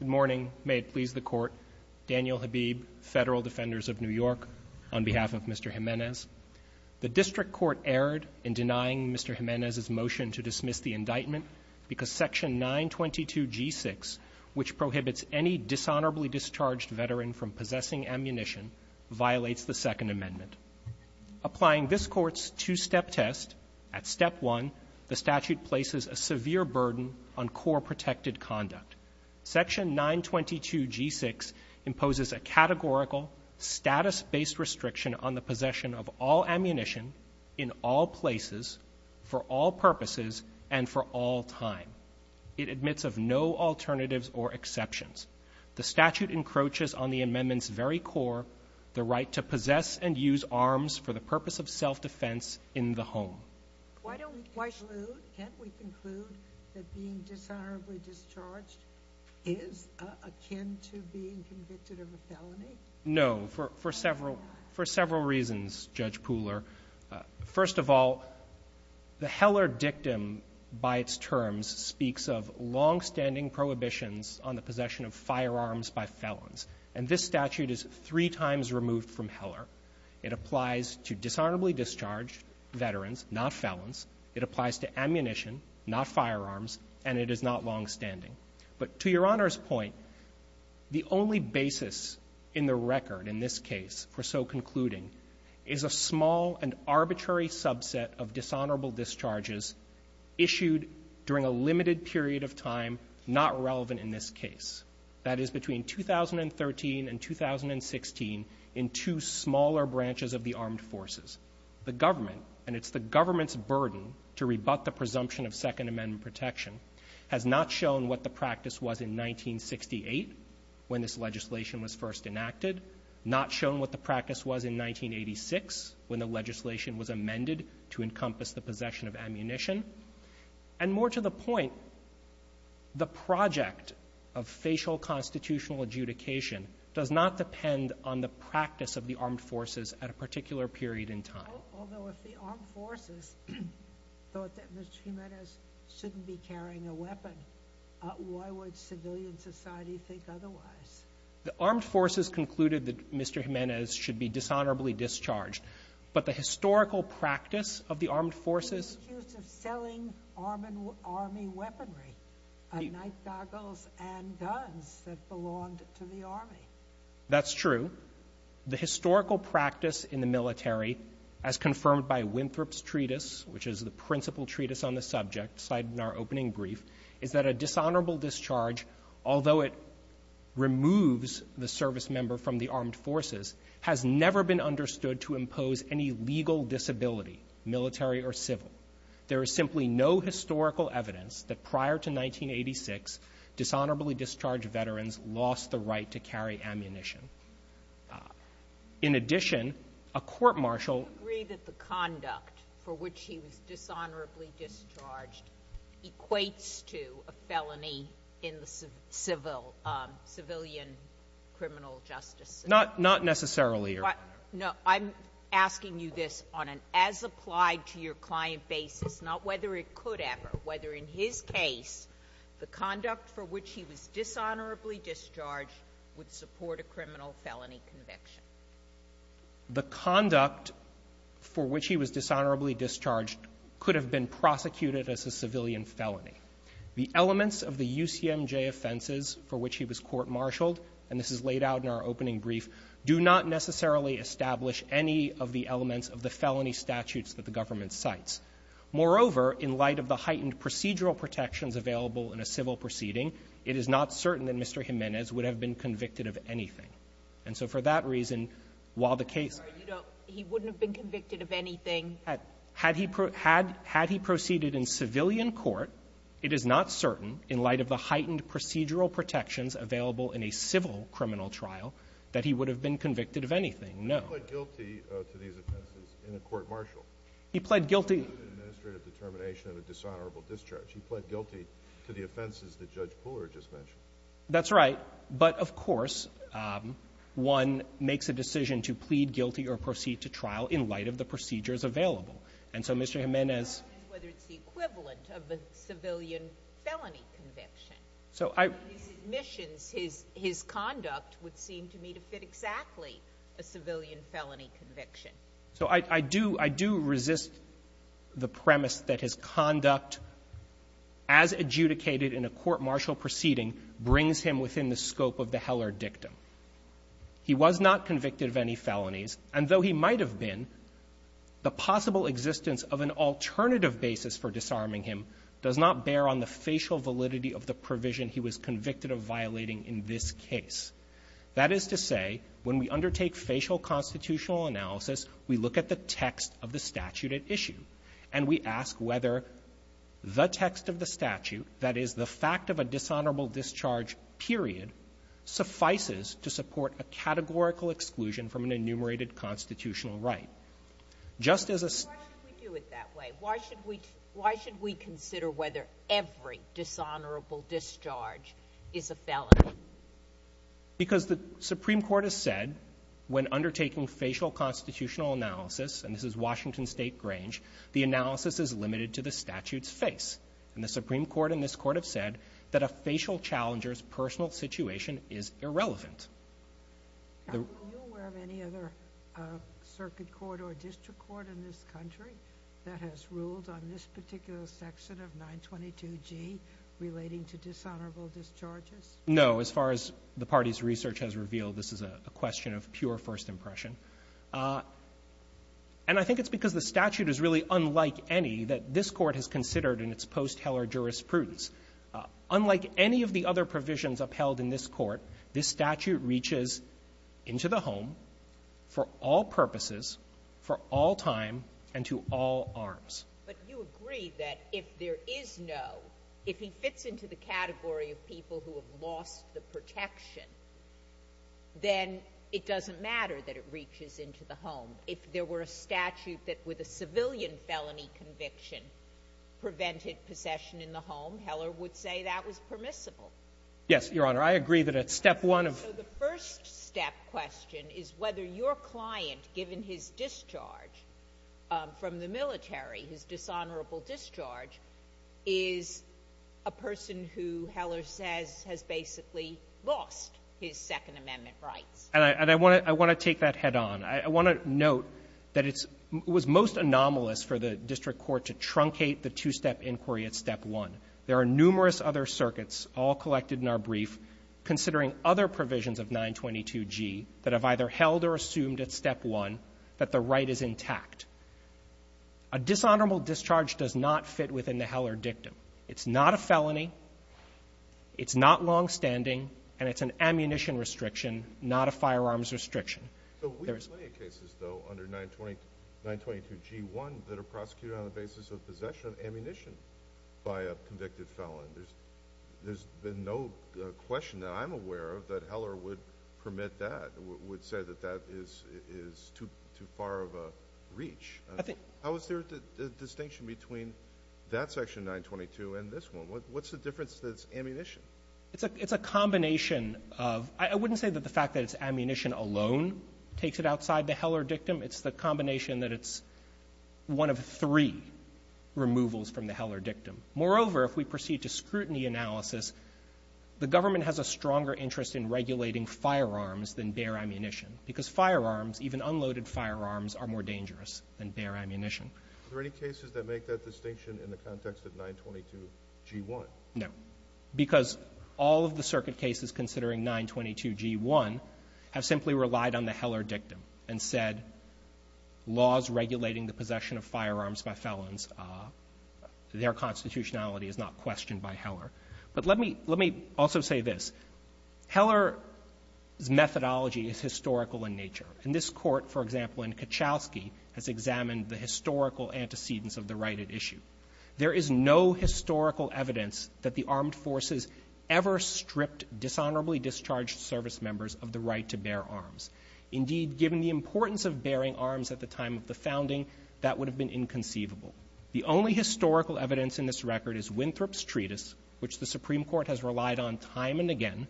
Good morning. May it please the Court. Daniel Habib, Federal Defenders of New York, on behalf of Mr. Jimenez. The District Court erred in denying Mr. Jimenez's motion to dismiss the indictment because Section 922G6, which prohibits any dishonorably discharged veteran from possessing ammunition, violates the Second Amendment. Applying this Court's two-step test, at Step 1, the statute places a severe burden on core protected conduct. Section 922G6 imposes a categorical, status-based restriction on the possession of all ammunition, in all places, for all purposes, and for all time. It admits of no alternatives or exceptions. The statute encroaches on the Amendment's very core, the right to possess and use arms for the purpose of self-defense in the home. Why don't we conclude, can't we conclude that being dishonorably discharged is akin to being convicted of a felony? No. For several reasons, Judge Pooler. First of all, the Heller dictum by its terms speaks of longstanding prohibitions on the possession of firearms by felons. And this statute is three times removed from Heller. It applies to dishonorably discharged veterans, not felons. It applies to ammunition, not firearms. And it is not longstanding. But to Your Honor's point, the only basis in the record in this case for so concluding is a small and arbitrary subset of dishonorable discharges issued during a limited period of time not relevant in this case. That is, between 2013 and 2016, in two smaller branches of the armed forces. The government, and it's the government's burden to rebut the presumption of Second Amendment protection, has not shown what the practice was in 1968, when this legislation was first enacted, not shown what the practice was in 1986, when the legislation was amended to encompass the possession of ammunition. And more to the point, the project of facial constitutional adjudication does not depend on the practice of the armed forces at a particular period in time. Although if the armed forces thought that Mr. Jimenez shouldn't be carrying a weapon, why would civilian society think otherwise? The armed forces concluded that Mr. Jimenez should be dishonorably discharged. But the historical practice of the armed forces is true. The historical practice in the military, as confirmed by Winthrop's treatise, which is the principal treatise on the subject cited in our opening brief, is that a dishonorable discharge, although it removes the servicemember from the armed forces, has never been understood to impose any legal disability, military or civil. There is simply no historical evidence that prior to 1986, dishonorably discharged veterans lost the right to carry ammunition. In addition, a court-martial ---- Sotomayor, do you agree that the conduct for which he was dishonorably discharged equates to a felony in the civil --"civilian criminal justice system"? Not necessarily, Your Honor. No. I'm asking you this on an as-applied-to-your-client basis, not whether it could ever, whether in his case the conduct for which he was dishonorably discharged would support a criminal felony conviction. The conduct for which he was dishonorably discharged could have been prosecuted as a civilian felony. The elements of the UCMJ offenses for which he was court-martialed and this is laid out in our opening brief, do not necessarily establish any of the elements of the felony statutes that the government cites. Moreover, in light of the heightened procedural protections available in a civil proceeding, it is not certain that Mr. Jimenez would have been convicted of anything. And so for that reason, while the case ---- He wouldn't have been convicted of anything? Had he proceeded in civilian court, it is not certain, in light of the heightened procedural protections available in a civil criminal trial, that he would have been convicted of anything, no. He pled guilty to these offenses in a court-martial. He pled guilty ---- In an administrative determination of a dishonorable discharge. He pled guilty to the offenses that Judge Pooler just mentioned. That's right. But, of course, one makes a decision to plead guilty or proceed to trial in light of the procedures available. And so Mr. Jimenez ---- I'm asking whether it's the equivalent of a civilian felony conviction. So I ---- In his admissions, his conduct would seem to me to fit exactly a civilian felony conviction. So I do resist the premise that his conduct, as adjudicated in a court-martial proceeding, brings him within the scope of the Heller dictum. He was not convicted of any felonies, and though he might have been, the possible existence of an alternative basis for disarming him does not bear on the facial validity of the provision he was convicted of violating in this case. That is to say, when we undertake facial constitutional analysis, we look at the text of the statute at issue, and we ask whether the text of the statute, that is, the fact of a dishonorable discharge period, suffices to support a categorical exclusion from an enumerated constitutional right. Just as a ---- Why should we do it that way? Why should we ---- why should we consider whether every dishonorable discharge is a felony? Because the Supreme Court has said when undertaking facial constitutional analysis, and this is Washington State Grange, the analysis is limited to the statute's face. And the Supreme Court and this Court have said that a facial challenger's personal situation is irrelevant. Are you aware of any other circuit court or district court in this country that has ruled on this particular section of 922G relating to dishonorable discharges? No. As far as the party's research has revealed, this is a question of pure first impression. And I think it's because the statute is really unlike any that this Court has considered in its post-Heller jurisprudence. Unlike any of the other provisions upheld in this case, the statute reaches into the home for all purposes, for all time, and to all arms. But you agree that if there is no ---- if he fits into the category of people who have lost the protection, then it doesn't matter that it reaches into the home. If there were a statute that, with a civilian felony conviction, prevented possession in the home, Heller would say that was permissible. Yes, Your Honor. I agree that at step one of ---- So the first step question is whether your client, given his discharge from the military, his dishonorable discharge, is a person who Heller says has basically lost his Second Amendment rights. And I want to take that head on. I want to note that it was most anomalous for the district court to truncate the two-step inquiry at step one. There are numerous other circuits, all collected in our brief, considering other provisions of 922G that have either held or assumed at step one that the right is intact. A dishonorable discharge does not fit within the Heller dictum. It's not a felony. It's not longstanding. And it's an ammunition restriction, not a firearms restriction. There's ---- So we have plenty of cases, though, under 922G1 that are prosecuted on the basis of possession of ammunition by a convicted felon. There's been no question that I'm aware of that Heller would permit that, would say that that is too far of a reach. I think ---- How is there a distinction between that section 922 and this one? What's the difference that it's ammunition? It's a combination of ---- I wouldn't say that the fact that it's ammunition alone takes it outside the Heller dictum. It's the combination that it's one of three removals from the Heller dictum. Moreover, if we proceed to scrutiny analysis, the government has a stronger interest in regulating firearms than bare ammunition, because firearms, even unloaded firearms, are more dangerous than bare ammunition. Are there any cases that make that distinction in the context of 922G1? No. Because all of the circuit cases considering 922G1 have simply relied on the Heller dictum and said laws regulating the possession of firearms by felons, their constitutionality is not questioned by Heller. But let me also say this. Heller's methodology is historical in nature. And this Court, for example, in Kachowski, has examined the historical antecedents of the right at issue. There is no historical evidence that the armed forces ever stripped dishonorably discharged service members of the right to bear arms. Indeed, given the importance of bearing arms at the time of the founding, that would have been inconceivable. The only historical evidence in this record is Winthrop's treatise, which the Supreme Court has relied on time and again,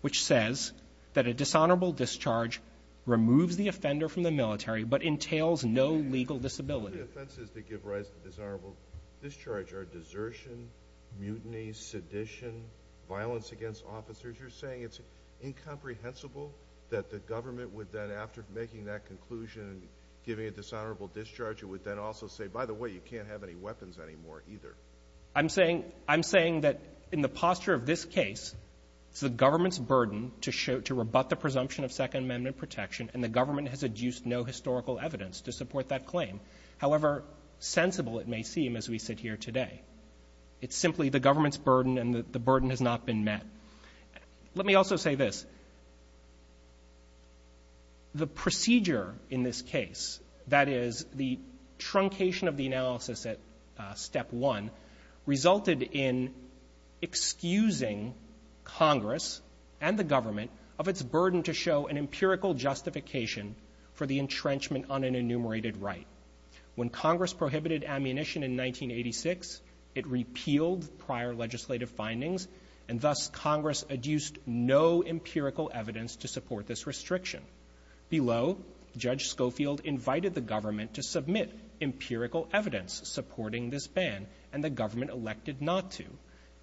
which says that a dishonorable discharge removes the offender from the military but entails no legal disability. The defense is to give rise to dishonorable discharge are desertion, mutiny, sedition, violence against officers. You're saying it's incomprehensible that the government would then, after making that conclusion, giving a dishonorable discharge, it would then also say, by the way, you can't have any weapons anymore either. I'm saying that in the posture of this case, it's the government's burden to rebut the presumption of Second Amendment protection, and the government has adduced no historical evidence to support that claim. However sensible it may seem as we sit here today, it's simply the government's position met. Let me also say this. The procedure in this case, that is the truncation of the analysis at step one, resulted in excusing Congress and the government of its burden to show an empirical justification for the entrenchment on an enumerated right. When Congress prohibited ammunition in 1986, it repealed prior legislative findings, and thus Congress adduced no empirical evidence to support this restriction. Below, Judge Schofield invited the government to submit empirical evidence supporting this ban, and the government elected not to.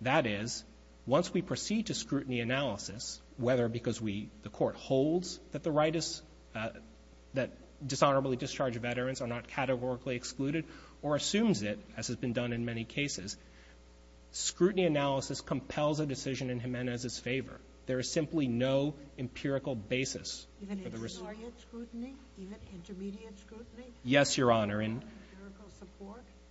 That is, once we proceed to scrutiny analysis, whether because we, the court holds that the ban is not categorically excluded or assumes it, as has been done in many cases, scrutiny analysis compels a decision in Jimenez's favor. There is simply no empirical basis for the restriction. Sotomayor, even intermediate scrutiny? Yes, Your Honor, and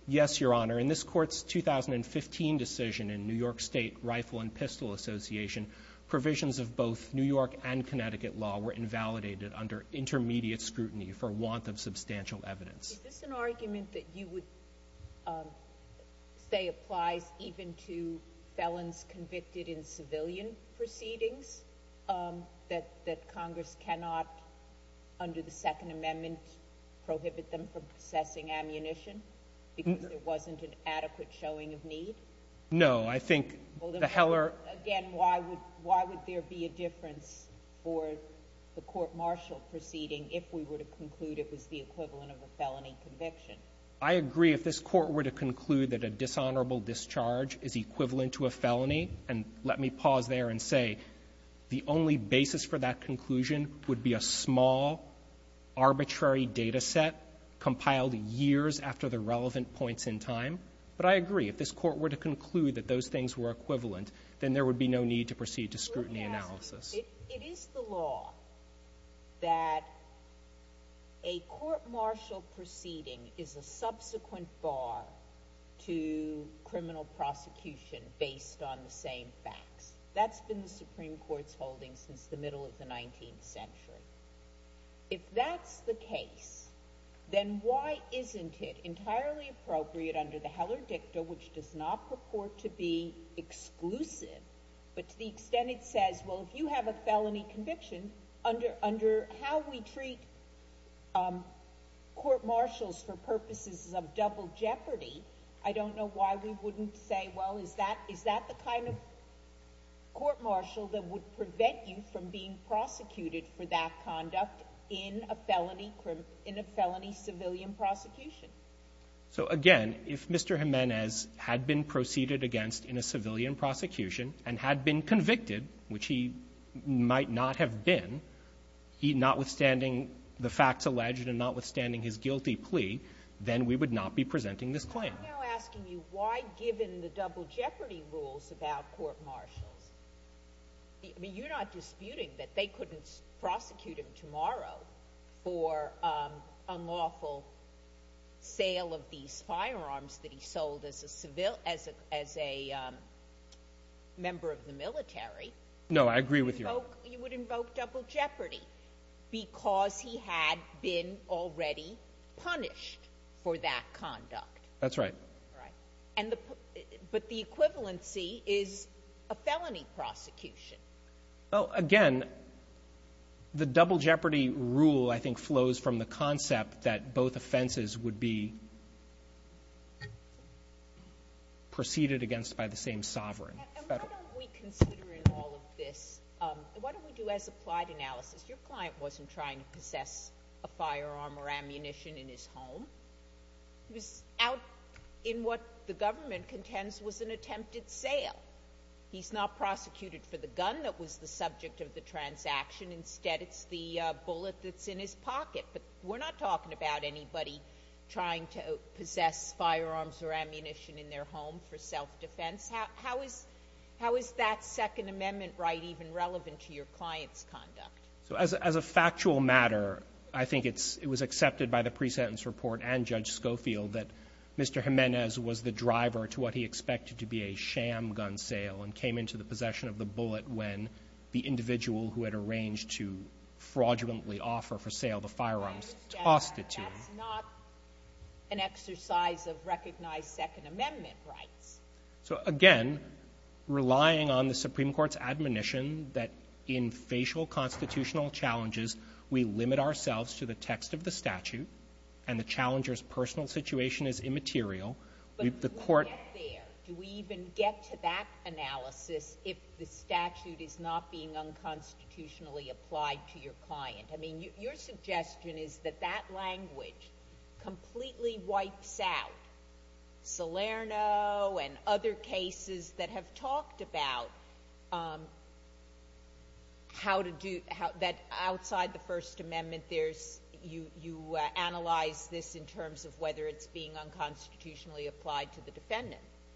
yes, Your Honor, in this Court's 2015 decision in New York State Rifle and Pistol Association, provisions of both New York and Connecticut law were Is this an argument that you would say applies even to felons convicted in civilian proceedings? That Congress cannot, under the Second Amendment, prohibit them from possessing ammunition because there wasn't an adequate showing of need? No, I think the Heller Again, why would there be a difference for the court-martial proceeding if we were to I agree if this Court were to conclude that a dishonorable discharge is equivalent to a felony, and let me pause there and say the only basis for that conclusion would be a small, arbitrary data set compiled years after the relevant points in time. But I agree, if this Court were to conclude that those things were equivalent, then there would be no need to proceed to scrutiny analysis. It is the law that a court-martial proceeding is a subsequent bar to criminal prosecution based on the same facts. That's been the Supreme Court's holding since the middle of the 19th century. If that's the case, then why isn't it entirely appropriate under the Heller Dicta, which does not purport to be exclusive, but to the extent it says, well, if you have a felony conviction, under how we treat court-martials for purposes of double jeopardy, I don't know why we wouldn't say, well, is that the kind of court-martial that would prevent you from being prosecuted for that conduct in a felony civilian prosecution? So, again, if Mr. Jimenez had been proceeded against in a civilian prosecution and had been convicted, which he might not have been, notwithstanding the facts alleged and notwithstanding his guilty plea, then we would not be presenting this claim. Sotomayor, I'm now asking you, why, given the double jeopardy rules about court-martials, I mean, you're not disputing that they couldn't prosecute him tomorrow for unlawful sale of these firearms that he sold as a member of the military. No, I agree with you. You would invoke double jeopardy because he had been already punished for that conduct. That's right. Right. But the equivalency is a felony prosecution. Well, again, the double jeopardy rule, I think, flows from the concept that both offenses would be proceeded against by the same sovereign. And why don't we consider in all of this, why don't we do as applied analysis, your client wasn't trying to possess a firearm or ammunition in his home. He was out in what the government contends was an attempted sale. He's not prosecuted for the gun that was the subject of the transaction. Instead, it's the bullet that's in his pocket. But we're not talking about anybody trying to possess firearms or ammunition in their home for self-defense. How is that Second Amendment right even relevant to your client's conduct? So as a factual matter, I think it's – it was accepted by the pre-sentence report and Judge Schofield that Mr. Jimenez was the driver to what he expected to be a sham gun sale and came into the possession of the bullet when the individual who had arranged to fraudulently offer for sale the firearms tossed it to him. That's not an exercise of recognized Second Amendment rights. So again, relying on the Supreme Court's admonition that in facial constitutional challenges, we limit ourselves to the text of the statute and the challenger's personal situation is immaterial. But do we get there? Do we even get to that analysis if the statute is not being unconstitutionally applied to your client? I mean, your suggestion is that that language completely wipes out Salerno and other cases that have talked about how to do – that outside the First Amendment.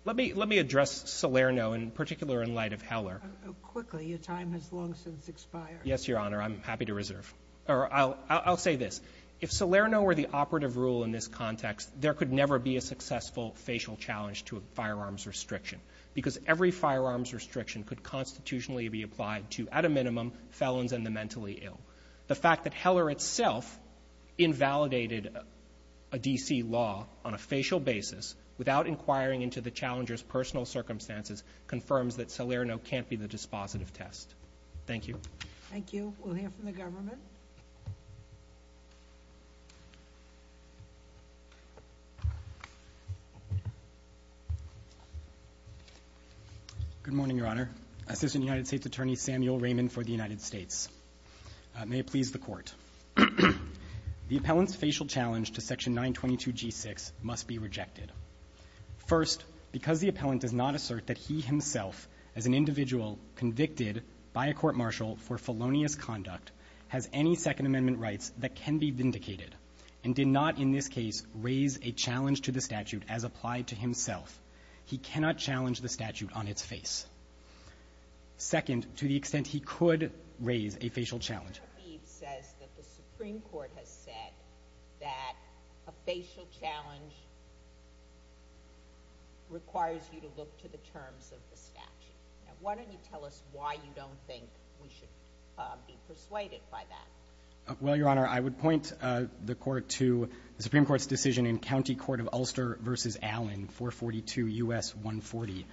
Let me address Salerno in particular in light of Heller. Quickly. Your time has long since expired. Yes, Your Honor. I'm happy to reserve. I'll say this. If Salerno were the operative rule in this context, there could never be a successful facial challenge to a firearms restriction because every firearms restriction could constitutionally be applied to, at a minimum, felons and the mentally ill. The fact that Heller itself invalidated a D.C. law on a facial basis without inquiring into the challenger's personal circumstances confirms that Salerno can't be the dispositive test. Thank you. Thank you. We'll hear from the government. Good morning, Your Honor. Assistant United States Attorney Samuel Raymond for the United States. May it please the Court. The appellant's facial challenge to Section 922G6 must be rejected. First, because the appellant does not assert that he himself, as an individual convicted by a court-martial for felonious conduct, has any Second Amendment rights that can be vindicated, and did not in this case raise a challenge to the statute as applied to himself, he cannot challenge the statute on its face. Second, to the extent he could raise a facial challenge. The Supreme Court has said that a facial challenge requires you to look to the terms of the statute. Now, why don't you tell us why you don't think we should be persuaded by that? Well, Your Honor, I would point the Court to the Supreme Court's decision in County Court of Ulster v. Allen, 442 U.S. 140,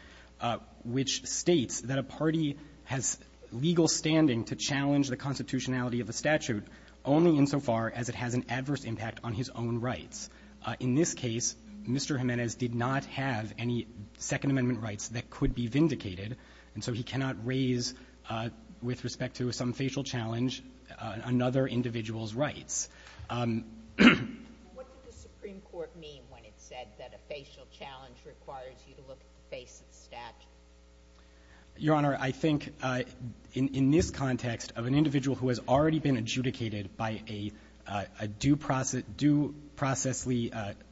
which states that a party has legal standing to challenge the constitutionality of a statute only insofar as it has an adverse impact on his own rights. In this case, Mr. Jimenez did not have any Second Amendment rights that could be vindicated, and so he cannot raise, with respect to some facial challenge, another individual's rights. What did the Supreme Court mean when it said that a facial challenge requires you to look at the face of the statute? Your Honor, I think in this context of an individual who has already been adjudicated by a due processly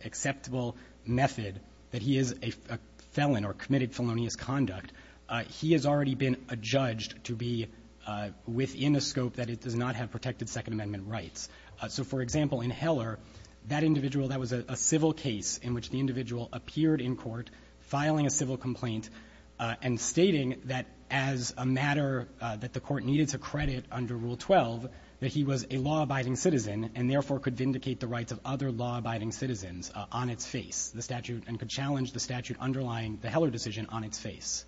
acceptable method, that he is a felon or committed felonious conduct, he has already been adjudged to be within a scope that it does not have protected Second Amendment rights. So, for example, in Heller, that individual, that was a civil case in which the individual appeared in court filing a civil complaint and stating that as a matter that the Court needed to credit under Rule 12, that he was a law-abiding citizen and therefore could vindicate the rights of other law-abiding citizens on its face, the statute and could challenge the statute underlying the Heller decision on its face.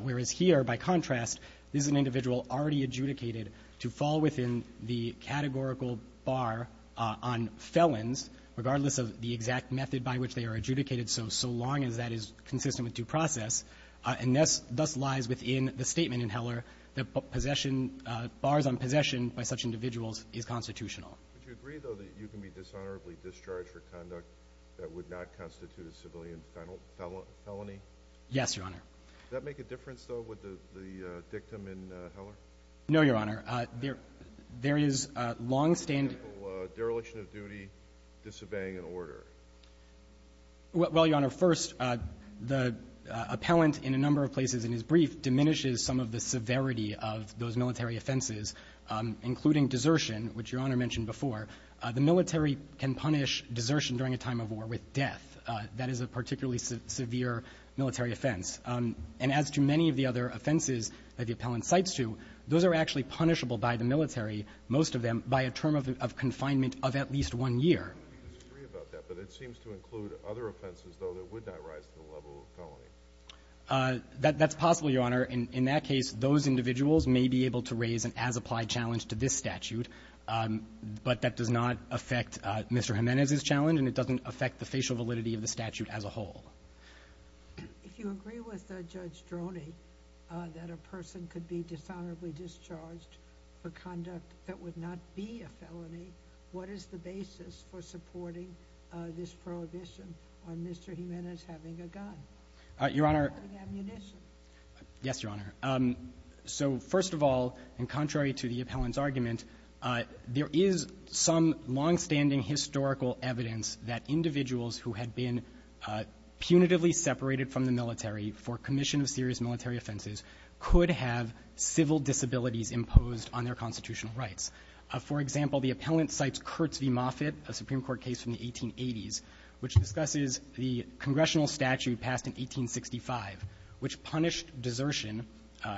Whereas here, by contrast, this is an individual already adjudicated to fall within the categorical bar on felons, regardless of the exact method by which they are adjudicated, so so long as that is consistent with due process, and thus lies within the statement in Heller that possession, bars on possession by such individuals is constitutional. Would you agree, though, that you can be dishonorably discharged for conduct that would not constitute a civilian felony? Yes, Your Honor. Does that make a difference, though, with the dictum in Heller? No, Your Honor. There is longstanding ---- For example, dereliction of duty, disobeying an order. Well, Your Honor, first, the appellant in a number of places in his brief diminishes some of the severity of those military offenses, including desertion, which Your Honor mentioned before. The military can punish desertion during a time of war with death. That is a particularly severe military offense. And as to many of the other offenses that the appellant cites to, those are actually punishable by the military, most of them, by a term of confinement of at least one year. I don't disagree about that, but it seems to include other offenses, though, that would not rise to the level of felony. That's possible, Your Honor. In that case, those individuals may be able to raise an as-applied challenge to this statute, but that does not affect Mr. Jimenez's challenge and it doesn't affect the facial validity of the statute as a whole. If you agree with Judge Droney that a person could be dishonorably discharged for conduct that would not be a felony, what is the basis for supporting this prohibition on Mr. Jimenez having a gun? Your Honor ---- And ammunition. Yes, Your Honor. So first of all, and contrary to the appellant's argument, there is some longstanding historical evidence that individuals who had been punitively separated from the military for commission of serious military offenses could have civil disabilities imposed on their constitutional rights. For example, the appellant cites Kurtz v. Moffitt, a Supreme Court case from the 1880s, which discusses the congressional statute passed in 1865, which punished desertion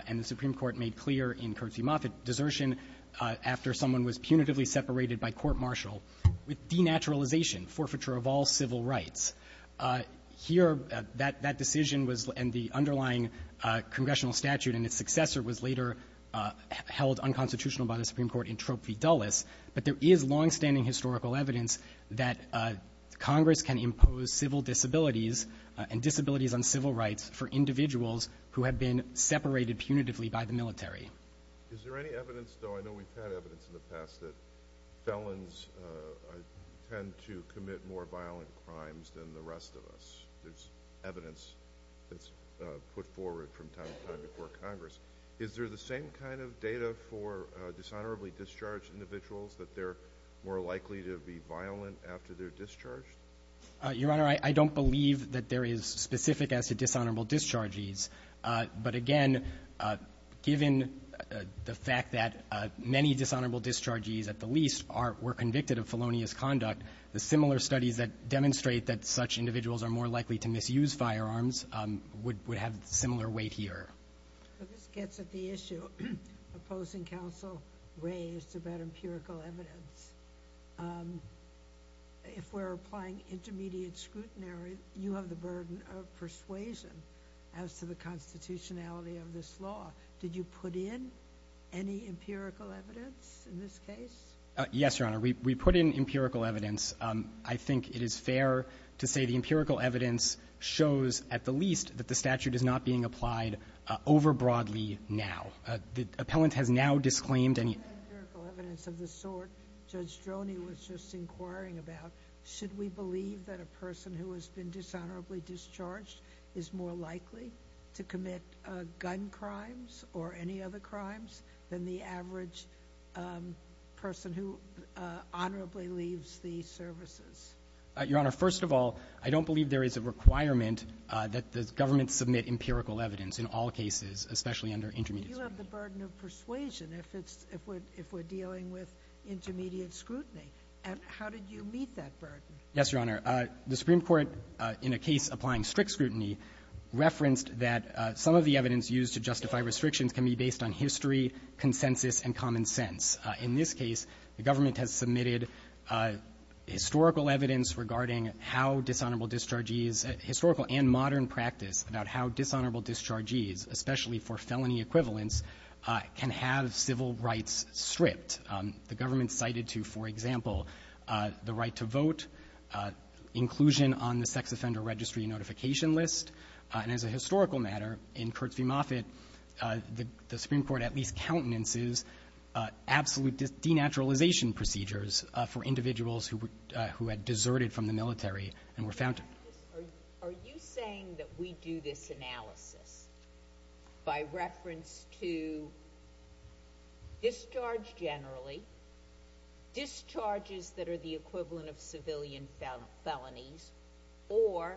and the Supreme Court made clear in Kurtz v. Moffitt, desertion after someone was punitively separated by court-martial with denaturalization, forfeiture of all civil rights. Here, that decision was in the underlying congressional statute, and its successor was later held unconstitutional by the Supreme Court in Troop v. Dulles. But there is longstanding historical evidence that Congress can impose civil disabilities and disabilities on civil rights for individuals who have been separated punitively by the military. Is there any evidence, though I know we've had evidence in the past, that felons tend to commit more violent crimes than the rest of us? There's evidence that's put forward from time to time before Congress. Is there the same kind of data for dishonorably discharged individuals, that they're more likely to be violent after they're discharged? Your Honor, I don't believe that there is specific as to dishonorable discharges. But again, given the fact that many dishonorable discharges, at the least, were convicted of felonious conduct, the similar studies that demonstrate that such individuals are more likely to misuse firearms would have similar weight here. But this gets at the issue opposing counsel raised about empirical evidence. If we're applying intermediate scrutiny, you have the burden of persuasion as to the constitutionality of this law. Did you put in any empirical evidence in this case? Yes, Your Honor. We put in empirical evidence. I think it is fair to say the empirical evidence shows, at the least, that the statute is not being applied overbroadly now. The appellant has now disclaimed any empirical evidence of the sort Judge Stroni was just inquiring about. Should we believe that a person who has been dishonorably discharged is more likely to commit gun crimes or any other crimes than the average person who honorably leaves the services? Your Honor, first of all, I don't believe there is a requirement that the government submit empirical evidence in all cases, especially under intermediate scrutiny. But you have the burden of persuasion if it's — if we're — if we're dealing Yes, Your Honor. The Supreme Court in a case applying strict scrutiny referenced that some of the evidence used to justify restrictions can be based on history, consensus, and common sense. In this case, the government has submitted historical evidence regarding how dishonorable discharges — historical and modern practice about how dishonorable discharges, especially for felony equivalents, can have civil rights stripped. The government cited to, for example, the right to vote, inclusion on the sex offender registry notification list. And as a historical matter, in Kurtz v. Moffitt, the Supreme Court at least countenances absolute denaturalization procedures for individuals who had deserted from the military and were found to — Are you saying that we do this analysis by reference to discharge generally, discharges that are the equivalent of civilian felonies, or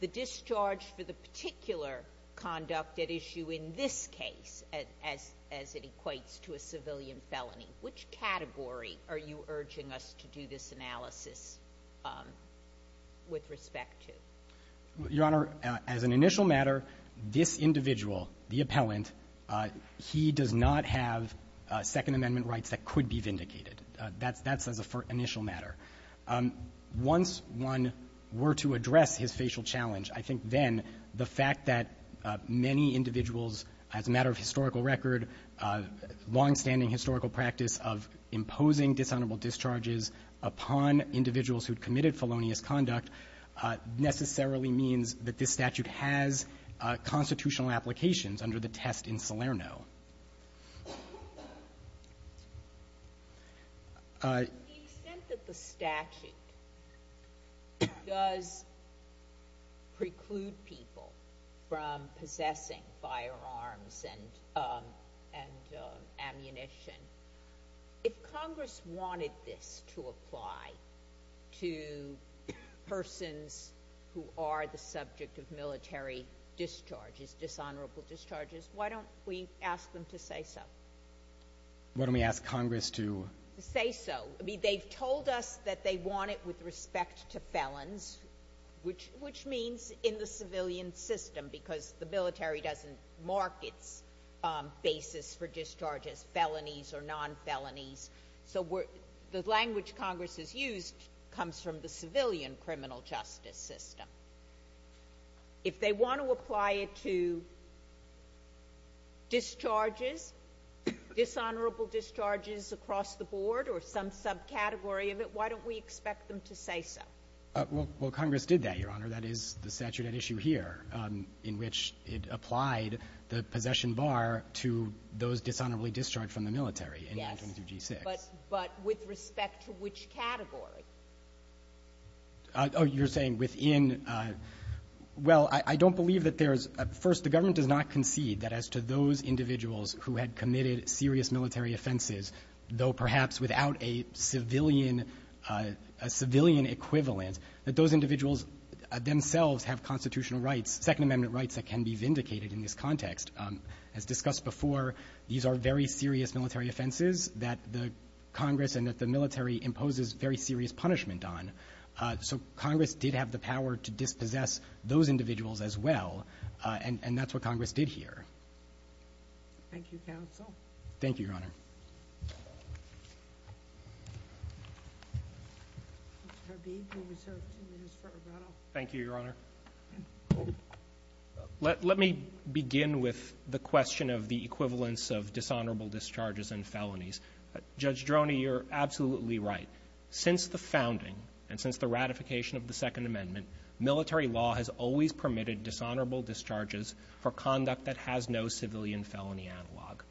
the discharge for the particular conduct at issue in this case as it equates to a civilian felony? Which category are you urging us to do this analysis with respect to? Your Honor, as an initial matter, this individual, the appellant, he does not have Second Amendment rights that could be vindicated. That's — that's as an initial matter. Once one were to address his facial challenge, I think then the fact that dishonorable discharges upon individuals who had committed felonious conduct necessarily means that this statute has constitutional applications under the test in Salerno. The extent that the statute does preclude people from possessing firearms and — and ammunition, if Congress wanted this to apply to persons who are the subject of military discharges, dishonorable discharges, why don't we ask them to say so? Why don't we ask Congress to — To say so. I mean, they've told us that they want it with respect to felons, which means in the civilian system, because the military doesn't mark its basis for discharges, felonies or non-felonies. So we're — the language Congress has used comes from the civilian criminal justice system. If they want to apply it to discharges, dishonorable discharges across the board or some subcategory of it, why don't we expect them to say so? Well, Congress did that, Your Honor. That is the statute at issue here, in which it applied the possession bar to those dishonorably discharged from the military in 922g6. Yes. But with respect to which category? Oh, you're saying within — well, I don't believe that there's — first, the government does not concede that as to those individuals who had committed serious military offenses, though perhaps without a civilian — a civilian equivalent, that those individuals themselves have constitutional rights, Second Amendment rights that can be vindicated in this context. As discussed before, these are very serious military offenses that the Congress and that the military imposes very serious punishment on. So Congress did have the power to dispossess those individuals as well, and that's what Congress did here. Thank you, counsel. Thank you, Your Honor. Mr. Harveed, you're reserved two minutes for rebuttal. Thank you, Your Honor. Let me begin with the question of the equivalence of dishonorable discharges and felonies. Judge Droney, you're absolutely right. Since the founding and since the ratification of the Second Amendment, military law has always permitted dishonorable discharges for conduct that has no civilian felony analog.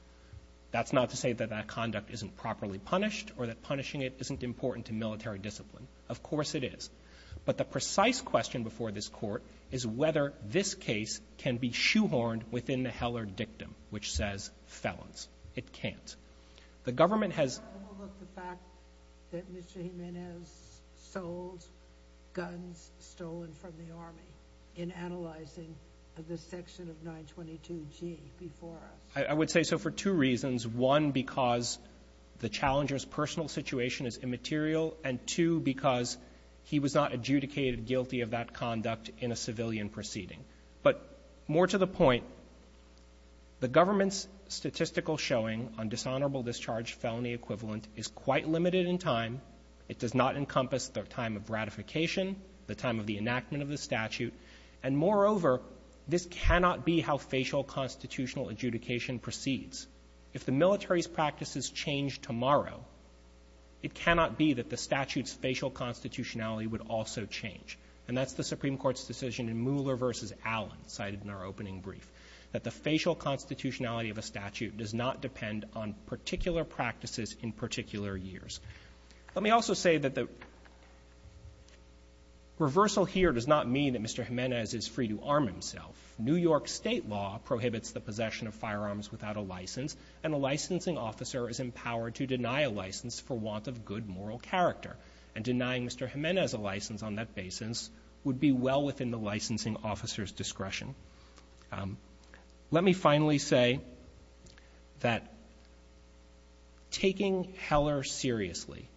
That's not to say that that conduct isn't properly punished or that punishing it isn't important to military discipline. Of course it is. But the precise question before this Court is whether this case can be shoehorned within the Heller dictum, which says felons. It can't. The government has — I would say so for two reasons. One, because the challenger's personal situation is immaterial, and two, because he was not adjudicated guilty of that conduct in a civilian proceeding. But more to the point, the government's statistical showing on dishonorable discharge felony equivalent is quite limited in time. It does not the time of the ratification, the time of the enactment of the statute. And moreover, this cannot be how facial constitutional adjudication proceeds. If the military's practices change tomorrow, it cannot be that the statute's facial constitutionality would also change. And that's the Supreme Court's decision in Mueller v. Allen, cited in our opening brief, that the facial constitutionality of a statute does not change. Reversal here does not mean that Mr. Jimenez is free to arm himself. New York State law prohibits the possession of firearms without a license, and a licensing officer is empowered to deny a license for want of good moral character. And denying Mr. Jimenez a license on that basis would be well within the licensing officer's discretion. Let me finally say that taking Heller seriously,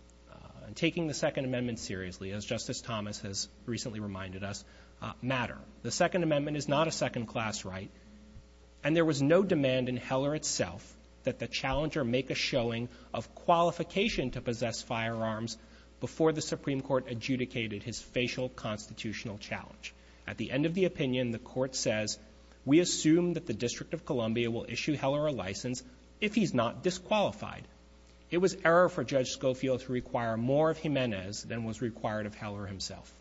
taking the Second Amendment seriously, as Justice Thomas has recently reminded us, matter. The Second Amendment is not a second-class right, and there was no demand in Heller itself that the challenger make a showing of qualification to possess firearms before the Supreme Court adjudicated his facial constitutional challenge. At the end of the opinion, the Court says, we assume that the District of Columbia will issue Heller a license if he's not disqualified. It was error for Judge Scofio to require more of Jimenez than was required of Heller himself.